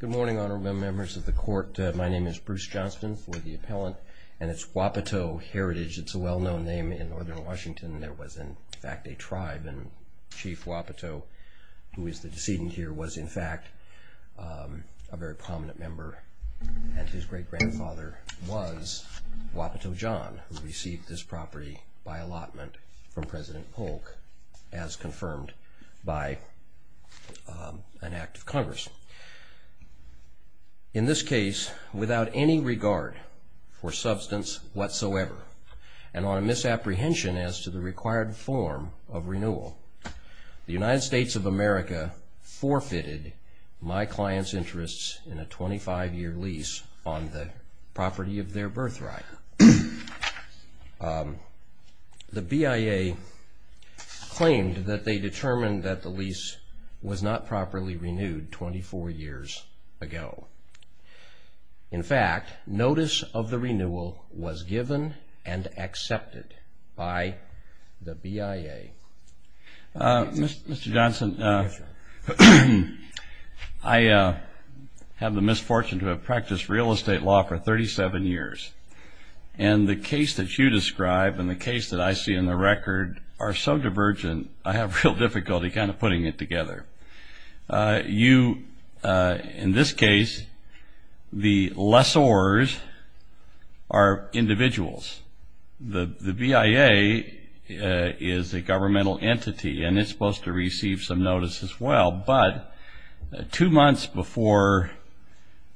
Good morning, Honorable Members of the Court. My name is Bruce Johnston, for the appellant, and it's Wapato Heritage. It's a well-known name in northern Washington. There was, in fact, a tribe, and Chief Wapato, who is the decedent here, was, in fact, a very prominent member, and his great-grandfather was Wapato John, who received this property by allotment from President Polk, as confirmed by an Act of Congress. In this case, without any regard for substance whatsoever, and on a misapprehension as to the required form of renewal, the United States of America forfeited my client's interests in a 25-year lease on the property of their birthright. The BIA claimed that they determined that the lease was not properly renewed 24 years ago. In fact, notice of the renewal was given and accepted by the BIA. Mr. Johnston, I have the misfortune to have practiced real estate law for 37 years, and the case that you describe and the case that I see in the record are so divergent, I have real difficulty kind of putting it together. You, in this case, the lessors are individuals. The BIA is a governmental entity, and it's supposed to receive some notice as well, but two months before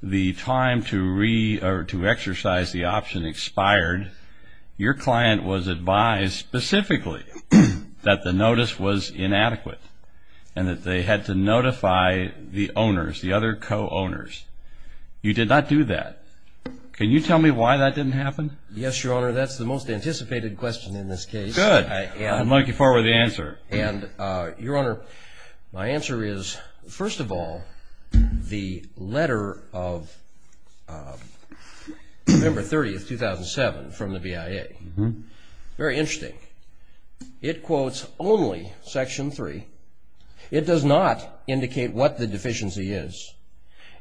the time to exercise the option expired, your client was advised specifically that the notice was inadequate, and that they had to notify the owners, the other co-owners. You did not do that. Can you tell me why that didn't happen? Yes, Your Honor. That's the most anticipated question in this case. Good. I'm looking forward to the answer. And, Your Honor, my answer is, first of all, the letter of November 30, 2007, from the BIA, very interesting. It quotes only Section 3. It does not indicate what the deficiency is.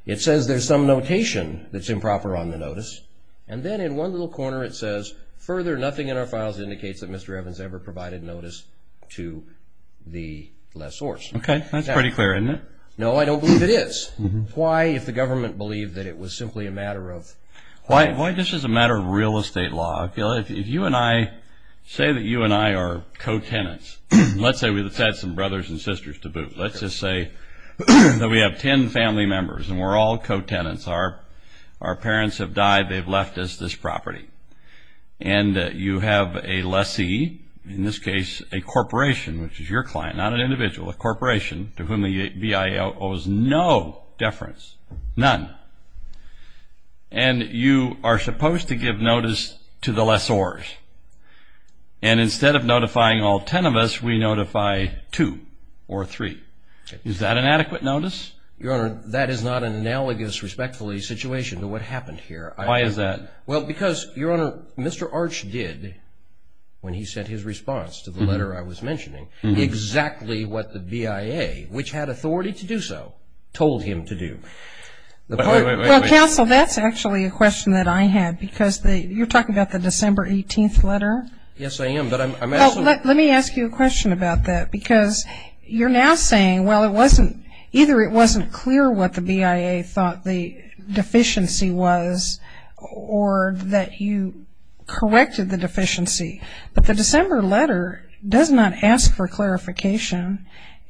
It says there's some notation that's improper on the notice, and then in one little corner it says, further, nothing in our files indicates that Mr. Evans ever provided notice to the lessors. Okay. That's pretty clear, isn't it? No, I don't believe it is. Why, if the government believed that it was simply a matter of… Why this is a matter of real estate law? If you and I say that you and I are co-tenants, let's say we had some brothers and sisters to boot. Let's just say that we have 10 family members, and we're all co-tenants. Our parents have died. They've left us this property. And you have a lessee, in this case a corporation, which is your client, not an individual, a corporation, to whom the BIA owes no deference, none. And you are supposed to give notice to the lessors. And instead of notifying all 10 of us, we notify two or three. Is that an adequate notice? Your Honor, that is not an analogous, respectfully, situation to what happened here. Why is that? Well, because, Your Honor, Mr. Arch did, when he sent his response to the letter I was mentioning, exactly what the BIA, which had authority to do so, told him to do. Well, counsel, that's actually a question that I had, because you're talking about the December 18th letter? Yes, I am. Let me ask you a question about that, because you're now saying, well, it wasn't, either it wasn't clear what the BIA thought the deficiency was, or that you corrected the deficiency. But the December letter does not ask for clarification,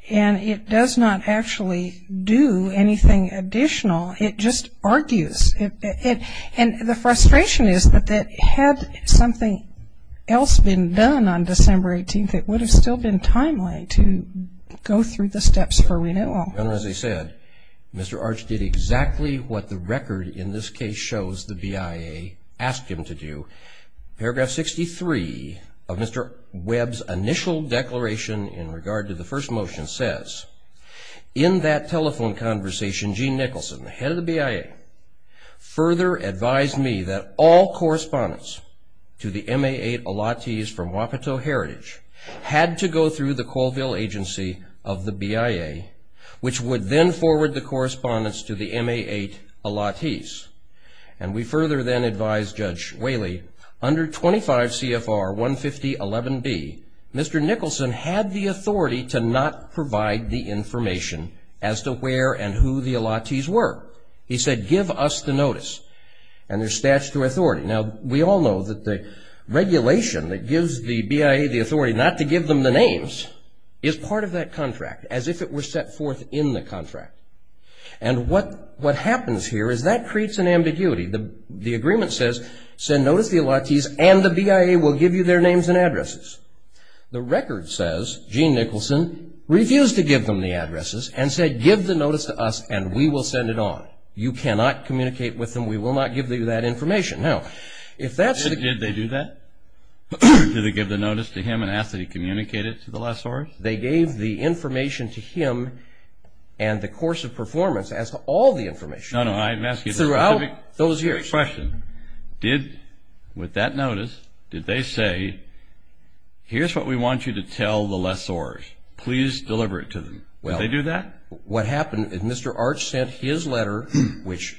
and it does not actually do anything additional. It just argues. And the frustration is that had something else been done on December 18th, it would have still been timely to go through the steps for renewal. Your Honor, as I said, Mr. Arch did exactly what the record in this case shows the BIA asked him to do. Paragraph 63 of Mr. Webb's initial declaration in regard to the first motion says, In that telephone conversation, Gene Nicholson, the head of the BIA, further advised me that all correspondence to the MA-8 Allottees from Wapato Heritage had to go through the Colville agency of the BIA, which would then forward the correspondence to the MA-8 Allottees. And we further then advised Judge Whaley, under 25 CFR 15011B, Mr. Nicholson had the authority to not provide the information as to where and who the Allottees were. He said, Give us the notice. And there's statutory authority. Now, we all know that the regulation that gives the BIA the authority not to give them the names is part of that contract, as if it were set forth in the contract. And what happens here is that creates an ambiguity. The agreement says, Send notice to the Allottees and the BIA will give you their names and addresses. The record says Gene Nicholson refused to give them the addresses and said, Give the notice to us and we will send it on. You cannot communicate with them. We will not give you that information. Now, if that's the case. Did they do that? Did they give the notice to him and ask that he communicate it to the lessors? They gave the information to him and the course of performance as to all the information. No, no. I'm asking you a specific question. Did, with that notice, did they say, Here's what we want you to tell the lessors. Please deliver it to them. Did they do that? What happened is Mr. Arch sent his letter, which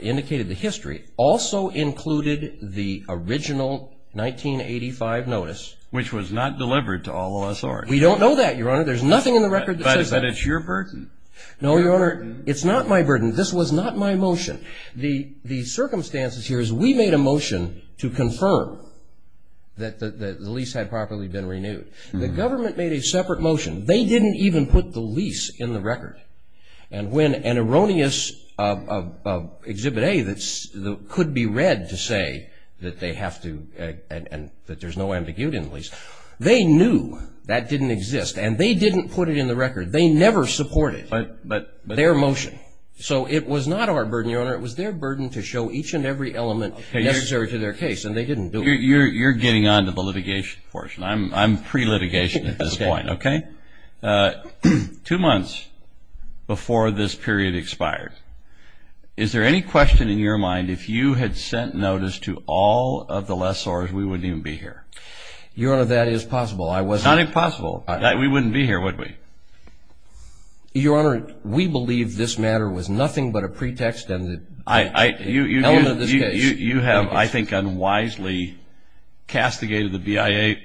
indicated the history, also included the original 1985 notice. Which was not delivered to all the lessors. We don't know that, Your Honor. There's nothing in the record that says that. But it's your burden. No, Your Honor. It's not my burden. This was not my motion. The circumstances here is we made a motion to confirm that the lease had properly been renewed. The government made a separate motion. They didn't even put the lease in the record. And when an erroneous Exhibit A that could be read to say that they have to, and that there's no ambiguity in the lease, they knew that didn't exist. And they didn't put it in the record. They never supported it. Their motion. So it was not our burden, Your Honor. It was their burden to show each and every element necessary to their case. And they didn't do it. You're getting on to the litigation portion. I'm pre-litigation at this point, okay? Two months before this period expired, is there any question in your mind if you had sent notice to all of the lessors, we wouldn't even be here? Your Honor, that is possible. It's not impossible. We wouldn't be here, would we? Your Honor, we believe this matter was nothing but a pretext and an element of this case. You have, I think, unwisely castigated the BIA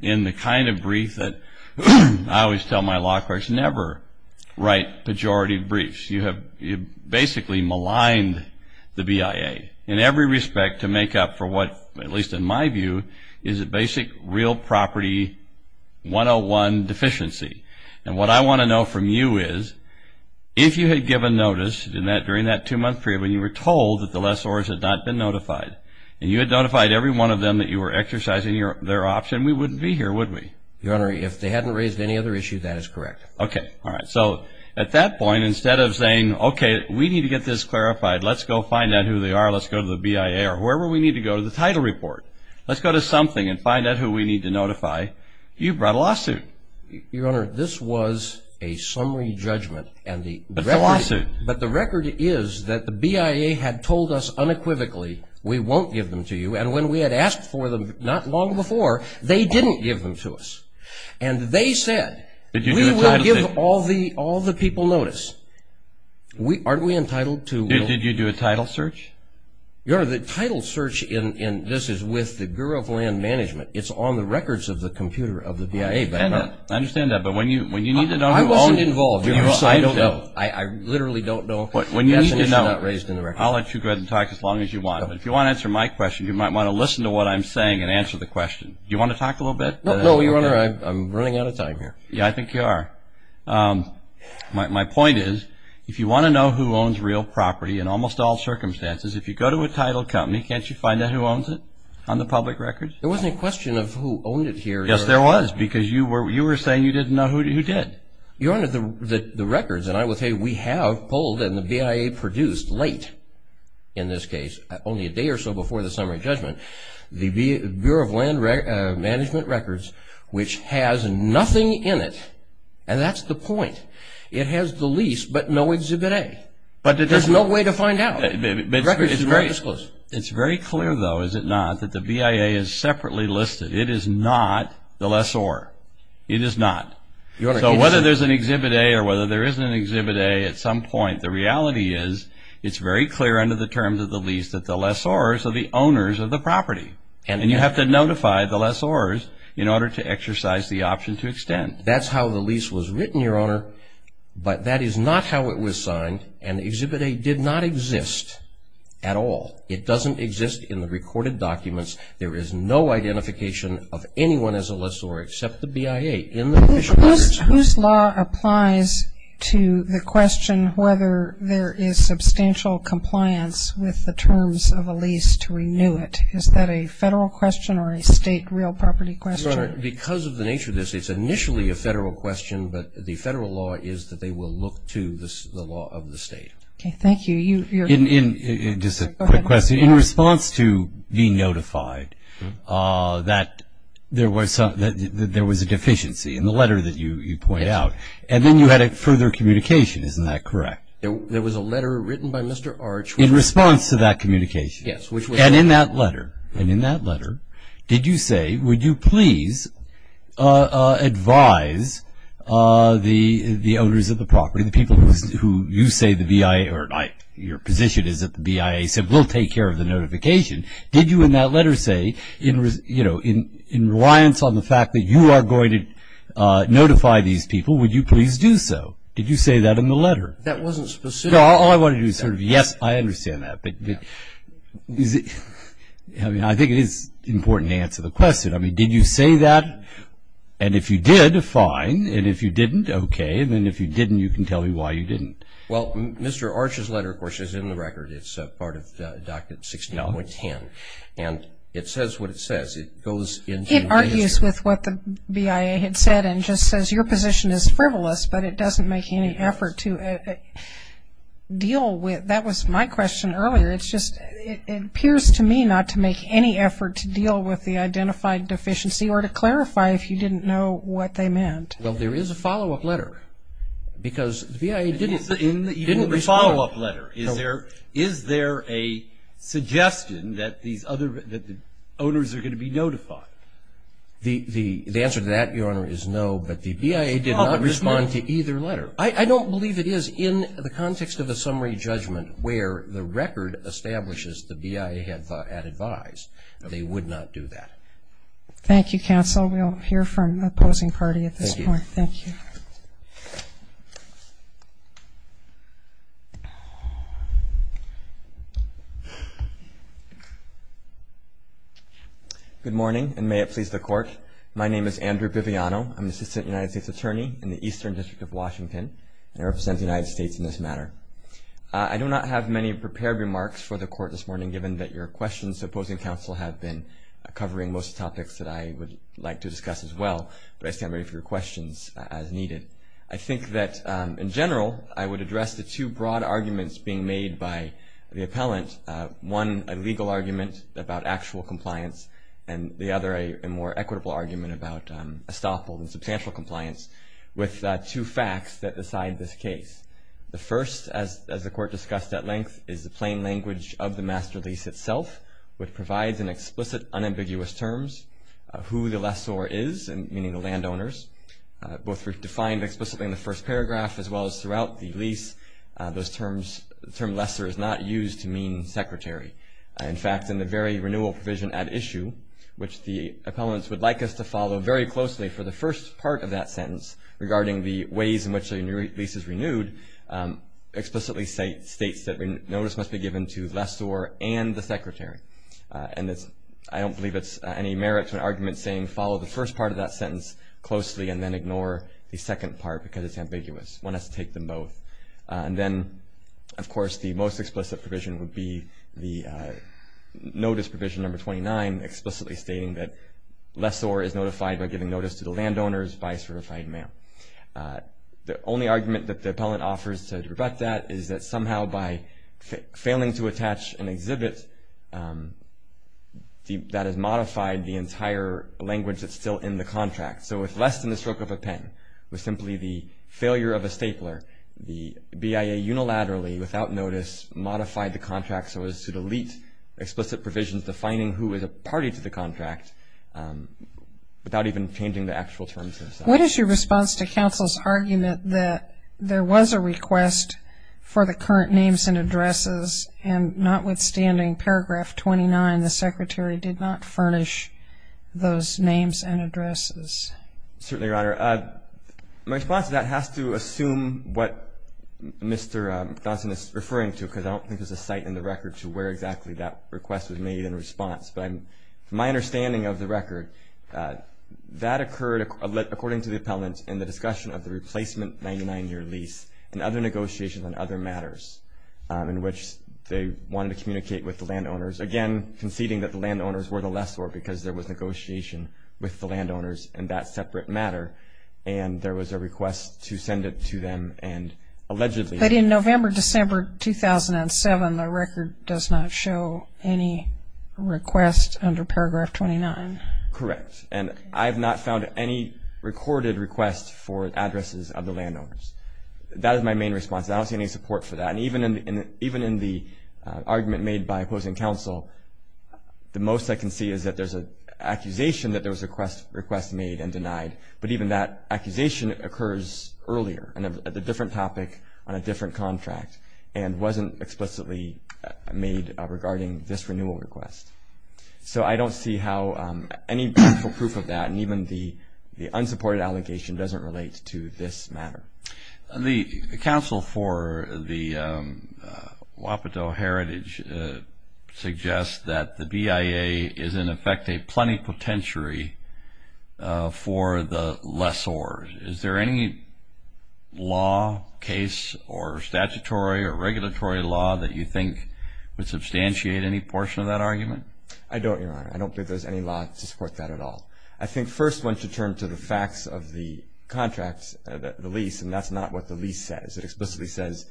in the kind of brief that I always tell my law clerks, never write pejorative briefs. You have basically maligned the BIA in every respect to make up for what, at least in my view, is a basic real property 101 deficiency. And what I want to know from you is if you had given notice during that two-month period when you were told that the lessors had not been notified, and you had notified every one of them that you were exercising their option, we wouldn't be here, would we? Your Honor, if they hadn't raised any other issue, that is correct. Okay. All right. So at that point, instead of saying, okay, we need to get this clarified. Let's go find out who they are. Let's go to the BIA or wherever we need to go to the title report. Let's go to something and find out who we need to notify. You brought a lawsuit. Your Honor, this was a summary judgment. It's a lawsuit. But the record is that the BIA had told us unequivocally, we won't give them to you. And when we had asked for them not long before, they didn't give them to us. And they said, we will give all the people notice. Aren't we entitled to? Did you do a title search? Your Honor, the title search in this is with the Bureau of Land Management. It's on the records of the computer of the BIA. I understand that. But when you need to know who owns it. I wasn't involved. I don't know. I literally don't know. When you need to know, I'll let you go ahead and talk as long as you want. But if you want to answer my question, you might want to listen to what I'm saying and answer the question. Do you want to talk a little bit? No, Your Honor, I'm running out of time here. Yeah, I think you are. My point is, if you want to know who owns real property, in almost all circumstances, if you go to a title company, can't you find out who owns it on the public records? There wasn't a question of who owned it here. Yes, there was. Because you were saying you didn't know who did. Your Honor, the records, and I would say we have pulled and the BIA produced late, in this case, only a day or so before the summary judgment, the Bureau of Land Management records, which has nothing in it. And that's the point. It has the lease, but no Exhibit A. There's no way to find out. Records are not disclosed. It's very clear, though, is it not, that the BIA is separately listed. It is not the lessor. It is not. So whether there's an Exhibit A or whether there isn't an Exhibit A, at some point the reality is it's very clear under the terms of the lease that the lessors are the owners of the property. And you have to notify the lessors in order to exercise the option to extend. And that's how the lease was written, Your Honor, but that is not how it was signed, and Exhibit A did not exist at all. It doesn't exist in the recorded documents. There is no identification of anyone as a lessor except the BIA in the official records. Whose law applies to the question whether there is substantial compliance with the terms of a lease to renew it? Is that a federal question or a state real property question? Your Honor, because of the nature of this, it's initially a federal question, but the federal law is that they will look to the law of the state. Okay, thank you. Just a quick question. In response to being notified that there was a deficiency in the letter that you point out, and then you had further communication, isn't that correct? There was a letter written by Mr. Arch. In response to that communication. Yes. And in that letter, and in that letter, did you say, would you please advise the owners of the property, the people who you say the BIA, or your position is that the BIA said we'll take care of the notification. Did you in that letter say, you know, in reliance on the fact that you are going to notify these people, would you please do so? Did you say that in the letter? That wasn't specific. No, all I want to do is sort of, yes, I understand that. I mean, I think it is important to answer the question. I mean, did you say that? And if you did, fine. And if you didn't, okay. And then if you didn't, you can tell me why you didn't. Well, Mr. Arch's letter, of course, is in the record. It's part of Doctrine 16.10. And it says what it says. It goes into the manager. It argues with what the BIA had said and just says your position is frivolous, but it doesn't make any effort to deal with. That was my question earlier. It's just, it appears to me not to make any effort to deal with the identified deficiency or to clarify if you didn't know what they meant. Well, there is a follow-up letter. Because the BIA didn't respond. In the follow-up letter, is there a suggestion that the owners are going to be notified? The answer to that, Your Honor, is no, but the BIA did not respond to either letter. I don't believe it is in the context of a summary judgment where the record establishes the BIA had advised. They would not do that. Thank you, counsel. We'll hear from the opposing party at this point. Thank you. Good morning, and may it please the Court. My name is Andrew Biviano. I'm the Assistant United States Attorney in the Eastern District of Washington, and I represent the United States in this matter. I do not have many prepared remarks for the Court this morning, given that your questions to opposing counsel have been covering most topics that I would like to discuss as well, but I stand ready for your questions as needed. I think that, in general, I would address the two broad arguments being made by the appellant, one a legal argument about actual compliance, and the other a more equitable argument about estoppel and substantial compliance, with two facts that decide this case. The first, as the Court discussed at length, is the plain language of the master lease itself, which provides in explicit, unambiguous terms who the lessor is, meaning the landowners. Both were defined explicitly in the first paragraph as well as throughout the lease. Those terms, the term lessor is not used to mean secretary. In fact, in the very renewal provision at issue, which the appellants would like us to follow very closely for the first part of that sentence, regarding the ways in which the lease is renewed, explicitly states that notice must be given to lessor and the secretary. And I don't believe it's any merit to an argument saying follow the first part of that sentence closely and then ignore the second part because it's ambiguous. One has to take them both. And then, of course, the most explicit provision would be the notice provision number 29, explicitly stating that lessor is notified by giving notice to the landowners by certified mail. The only argument that the appellant offers to rebut that is that somehow by failing to attach an exhibit, that has modified the entire language that's still in the contract. So with less than the stroke of a pen, with simply the failure of a stapler, the BIA unilaterally, without notice, modified the contract so as to delete explicit provisions defining who is a party to the contract without even changing the actual terms themselves. What is your response to counsel's argument that there was a request for the current names and addresses and notwithstanding paragraph 29, the secretary did not furnish those names and addresses? Certainly, Your Honor. My response to that has to assume what Mr. Johnson is referring to because I don't think there's a site in the record to where exactly that request was made in response. But my understanding of the record, that occurred according to the appellant in the discussion of the replacement 99-year lease and other negotiations on other matters in which they wanted to communicate with the landowners, again conceding that the landowners were the lessor because there was negotiation with the landowners in that separate matter and there was a request to send it to them and allegedly. But in November, December 2007, the record does not show any request under paragraph 29. Correct. And I have not found any recorded request for addresses of the landowners. That is my main response. I don't see any support for that. And even in the argument made by opposing counsel, the most I can see is that there's an accusation that there was a request made and denied, but even that accusation occurs earlier at a different topic on a different contract and wasn't explicitly made regarding this renewal request. So I don't see how any proof of that and even the unsupported allegation doesn't relate to this matter. The counsel for the Wapato Heritage suggests that the BIA is in effect a plenipotentiary for the lessor. Is there any law, case or statutory or regulatory law that you think would substantiate any portion of that argument? I don't, Your Honor. I don't think there's any law to support that at all. I think first one should turn to the facts of the contracts, the lease, and that's not what the lease says. It explicitly says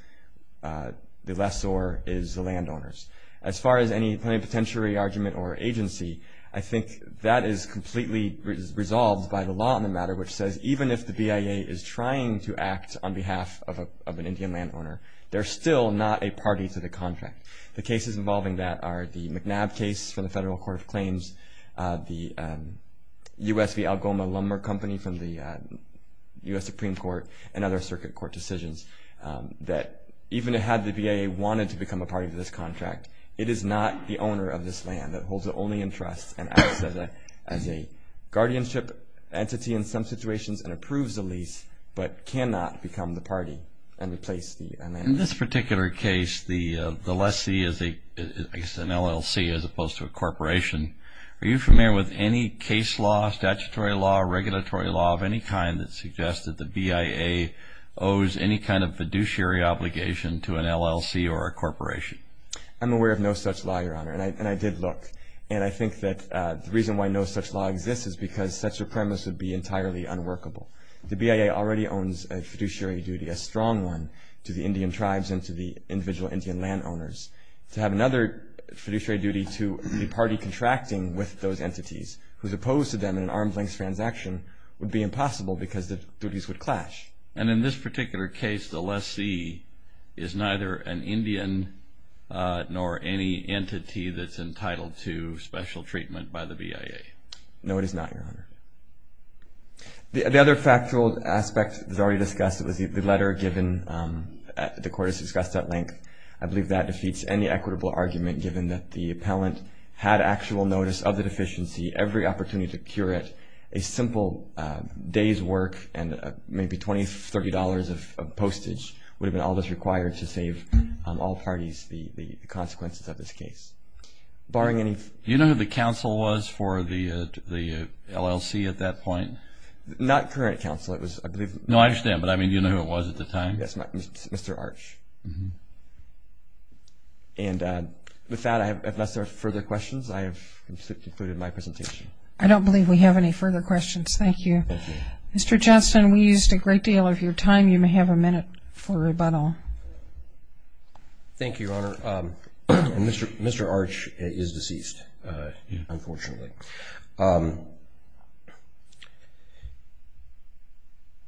the lessor is the landowners. As far as any plenipotentiary argument or agency, I think that is completely resolved by the law on the matter, which says even if the BIA is trying to act on behalf of an Indian landowner, they're still not a party to the contract. The cases involving that are the McNabb case from the Federal Court of Claims, the U.S. v. Algoma Lumber Company from the U.S. Supreme Court, and other circuit court decisions that even had the BIA wanted to become a party to this contract, it is not the owner of this land that holds it only in trust and acts as a guardianship entity in some situations and approves the lease, but cannot become the party and replace the landowner. In this particular case, the lessee is an LLC as opposed to a corporation. Are you familiar with any case law, statutory law, regulatory law of any kind that suggests that the BIA owes any kind of fiduciary obligation to an LLC or a corporation? I'm aware of no such law, Your Honor, and I did look. And I think that the reason why no such law exists is because such a premise would be entirely unworkable. The BIA already owns a fiduciary duty, a strong one, to the Indian tribes and to the individual Indian landowners. To have another fiduciary duty to the party contracting with those entities who's opposed to them in an arm's length transaction would be impossible because the duties would clash. And in this particular case, the lessee is neither an Indian nor any entity that's entitled to special treatment by the BIA. No, it is not, Your Honor. The other factual aspect that was already discussed was the letter given, the court has discussed at length. I believe that defeats any equitable argument given that the appellant had actual notice of the deficiency, every opportunity to cure it, a simple day's work and maybe $20, $30 of postage would have been all that's required to save all parties the consequences of this case. Do you know who the counsel was for the LLC at that point? Not current counsel. No, I understand, but do you know who it was at the time? Yes, Mr. Arch. And with that, unless there are further questions, I have concluded my presentation. I don't believe we have any further questions. Thank you. Mr. Johnston, we used a great deal of your time. You may have a minute for rebuttal. Thank you, Your Honor. Mr. Arch is deceased, unfortunately.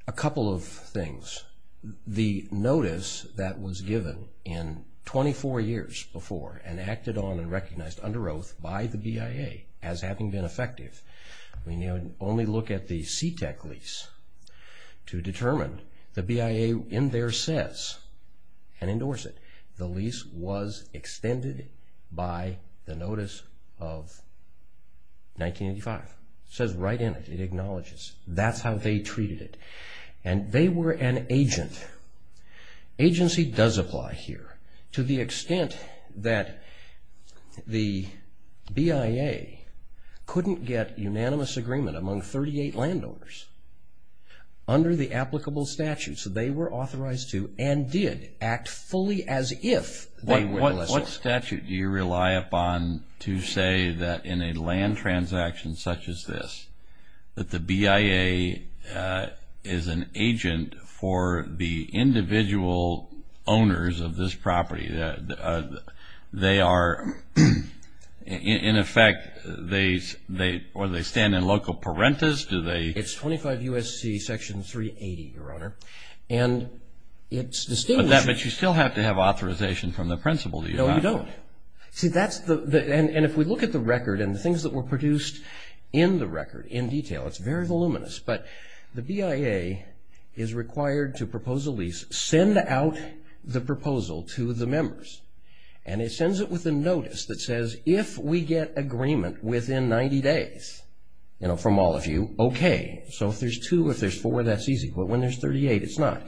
A couple of things. The notice that was given in 24 years before and acted on and recognized under oath by the BIA as having been effective. We now only look at the CTEC lease to determine the BIA in there says and endorse it. The lease was extended by the notice of 1985. It says right in it. It acknowledges. That's how they treated it. And they were an agent. Agency does apply here to the extent that the BIA couldn't get unanimous agreement among 38 landowners under the applicable statute. So they were authorized to and did act fully as if they were. What statute do you rely upon to say that in a land transaction such as this that the BIA is an agent for the individual owners of this property? They are, in effect, or they stand in loco parentis? It's 25 U.S.C. Section 380, Your Honor. But you still have to have authorization from the principal, do you not? No, you don't. And if we look at the record and the things that were produced in the record in detail, it's very voluminous. But the BIA is required to propose a lease, send out the proposal to the members, and it sends it with a notice that says if we get agreement within 90 days from all of you, okay. So if there's two, if there's four, that's easy. But when there's 38, it's not.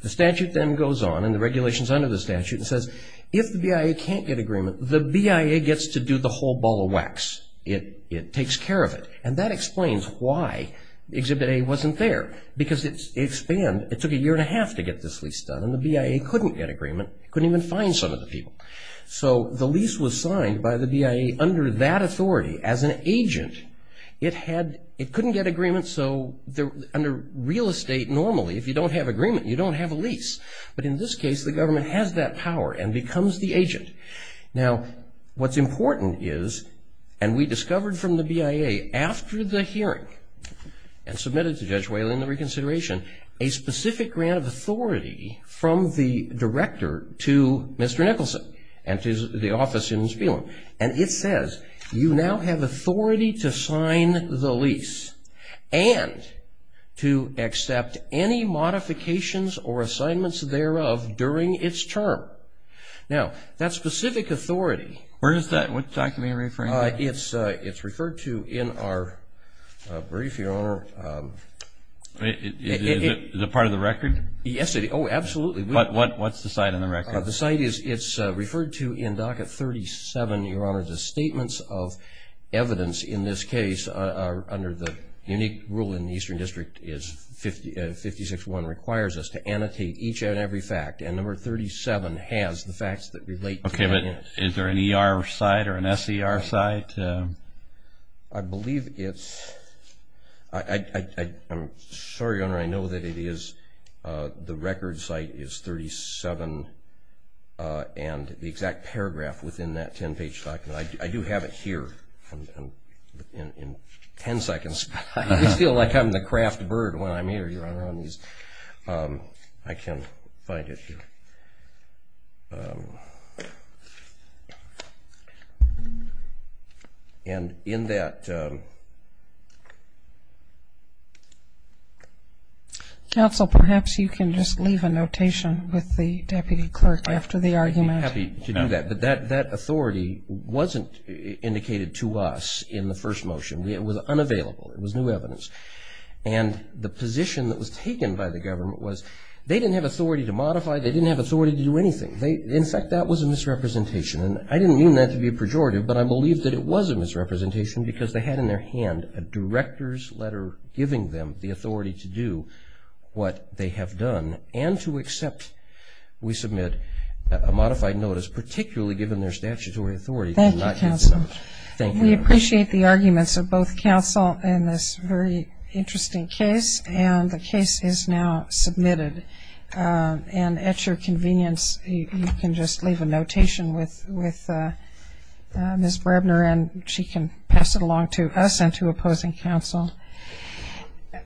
The statute then goes on, and the regulations under the statute, and says if the BIA can't get agreement, the BIA gets to do the whole ball of wax. It takes care of it. And that explains why Exhibit A wasn't there, because it took a year and a half to get this lease done, and the BIA couldn't get agreement, couldn't even find some of the people. So the lease was signed by the BIA under that authority as an agent. It couldn't get agreement, so under real estate, normally, if you don't have agreement, you don't have a lease. But in this case, the government has that power and becomes the agent. Now, what's important is, and we discovered from the BIA after the hearing, and submitted to Judge Whaley in the reconsideration, a specific grant of authority from the director to Mr. Nicholson and to the office in Spielem. And it says, you now have authority to sign the lease and to accept any modifications or assignments thereof during its term. Now, that specific authority. Where is that? What document are you referring to? It's referred to in our brief, Your Honor. Is it part of the record? Yes, it is. Oh, absolutely. But what's the site and the record? The site is referred to in Docket 37, Your Honor, as statements of evidence. In this case, under the unique rule in the Eastern District, 56-1 requires us to annotate each and every fact. And Number 37 has the facts that relate to that. Okay, but is there an ER site or an SER site? I believe it's – I'm sorry, Your Honor, I know that it is. The record site is 37 and the exact paragraph within that 10-page document. I do have it here in 10 seconds. I always feel like I'm the craft bird when I'm here, Your Honor. I can find it here. And in that – Counsel, perhaps you can just leave a notation with the Deputy Clerk after the argument. I'd be happy to do that. But that authority wasn't indicated to us in the first motion. It was unavailable. It was new evidence. And the position that was taken by the government was, they didn't have authority to modify, they didn't have authority to do anything. In fact, that was a misrepresentation. And I didn't mean that to be a pejorative, but I believe that it was a misrepresentation because they had in their hand a director's letter giving them the authority to do what they have done and to accept we submit a modified notice, particularly given their statutory authority to not use the notice. Thank you, Counsel. Thank you, Your Honor. We appreciate the arguments of both counsel in this very interesting case. And the case is now submitted. And at your convenience, you can just leave a notation with Ms. Brebner and she can pass it along to us and to opposing counsel.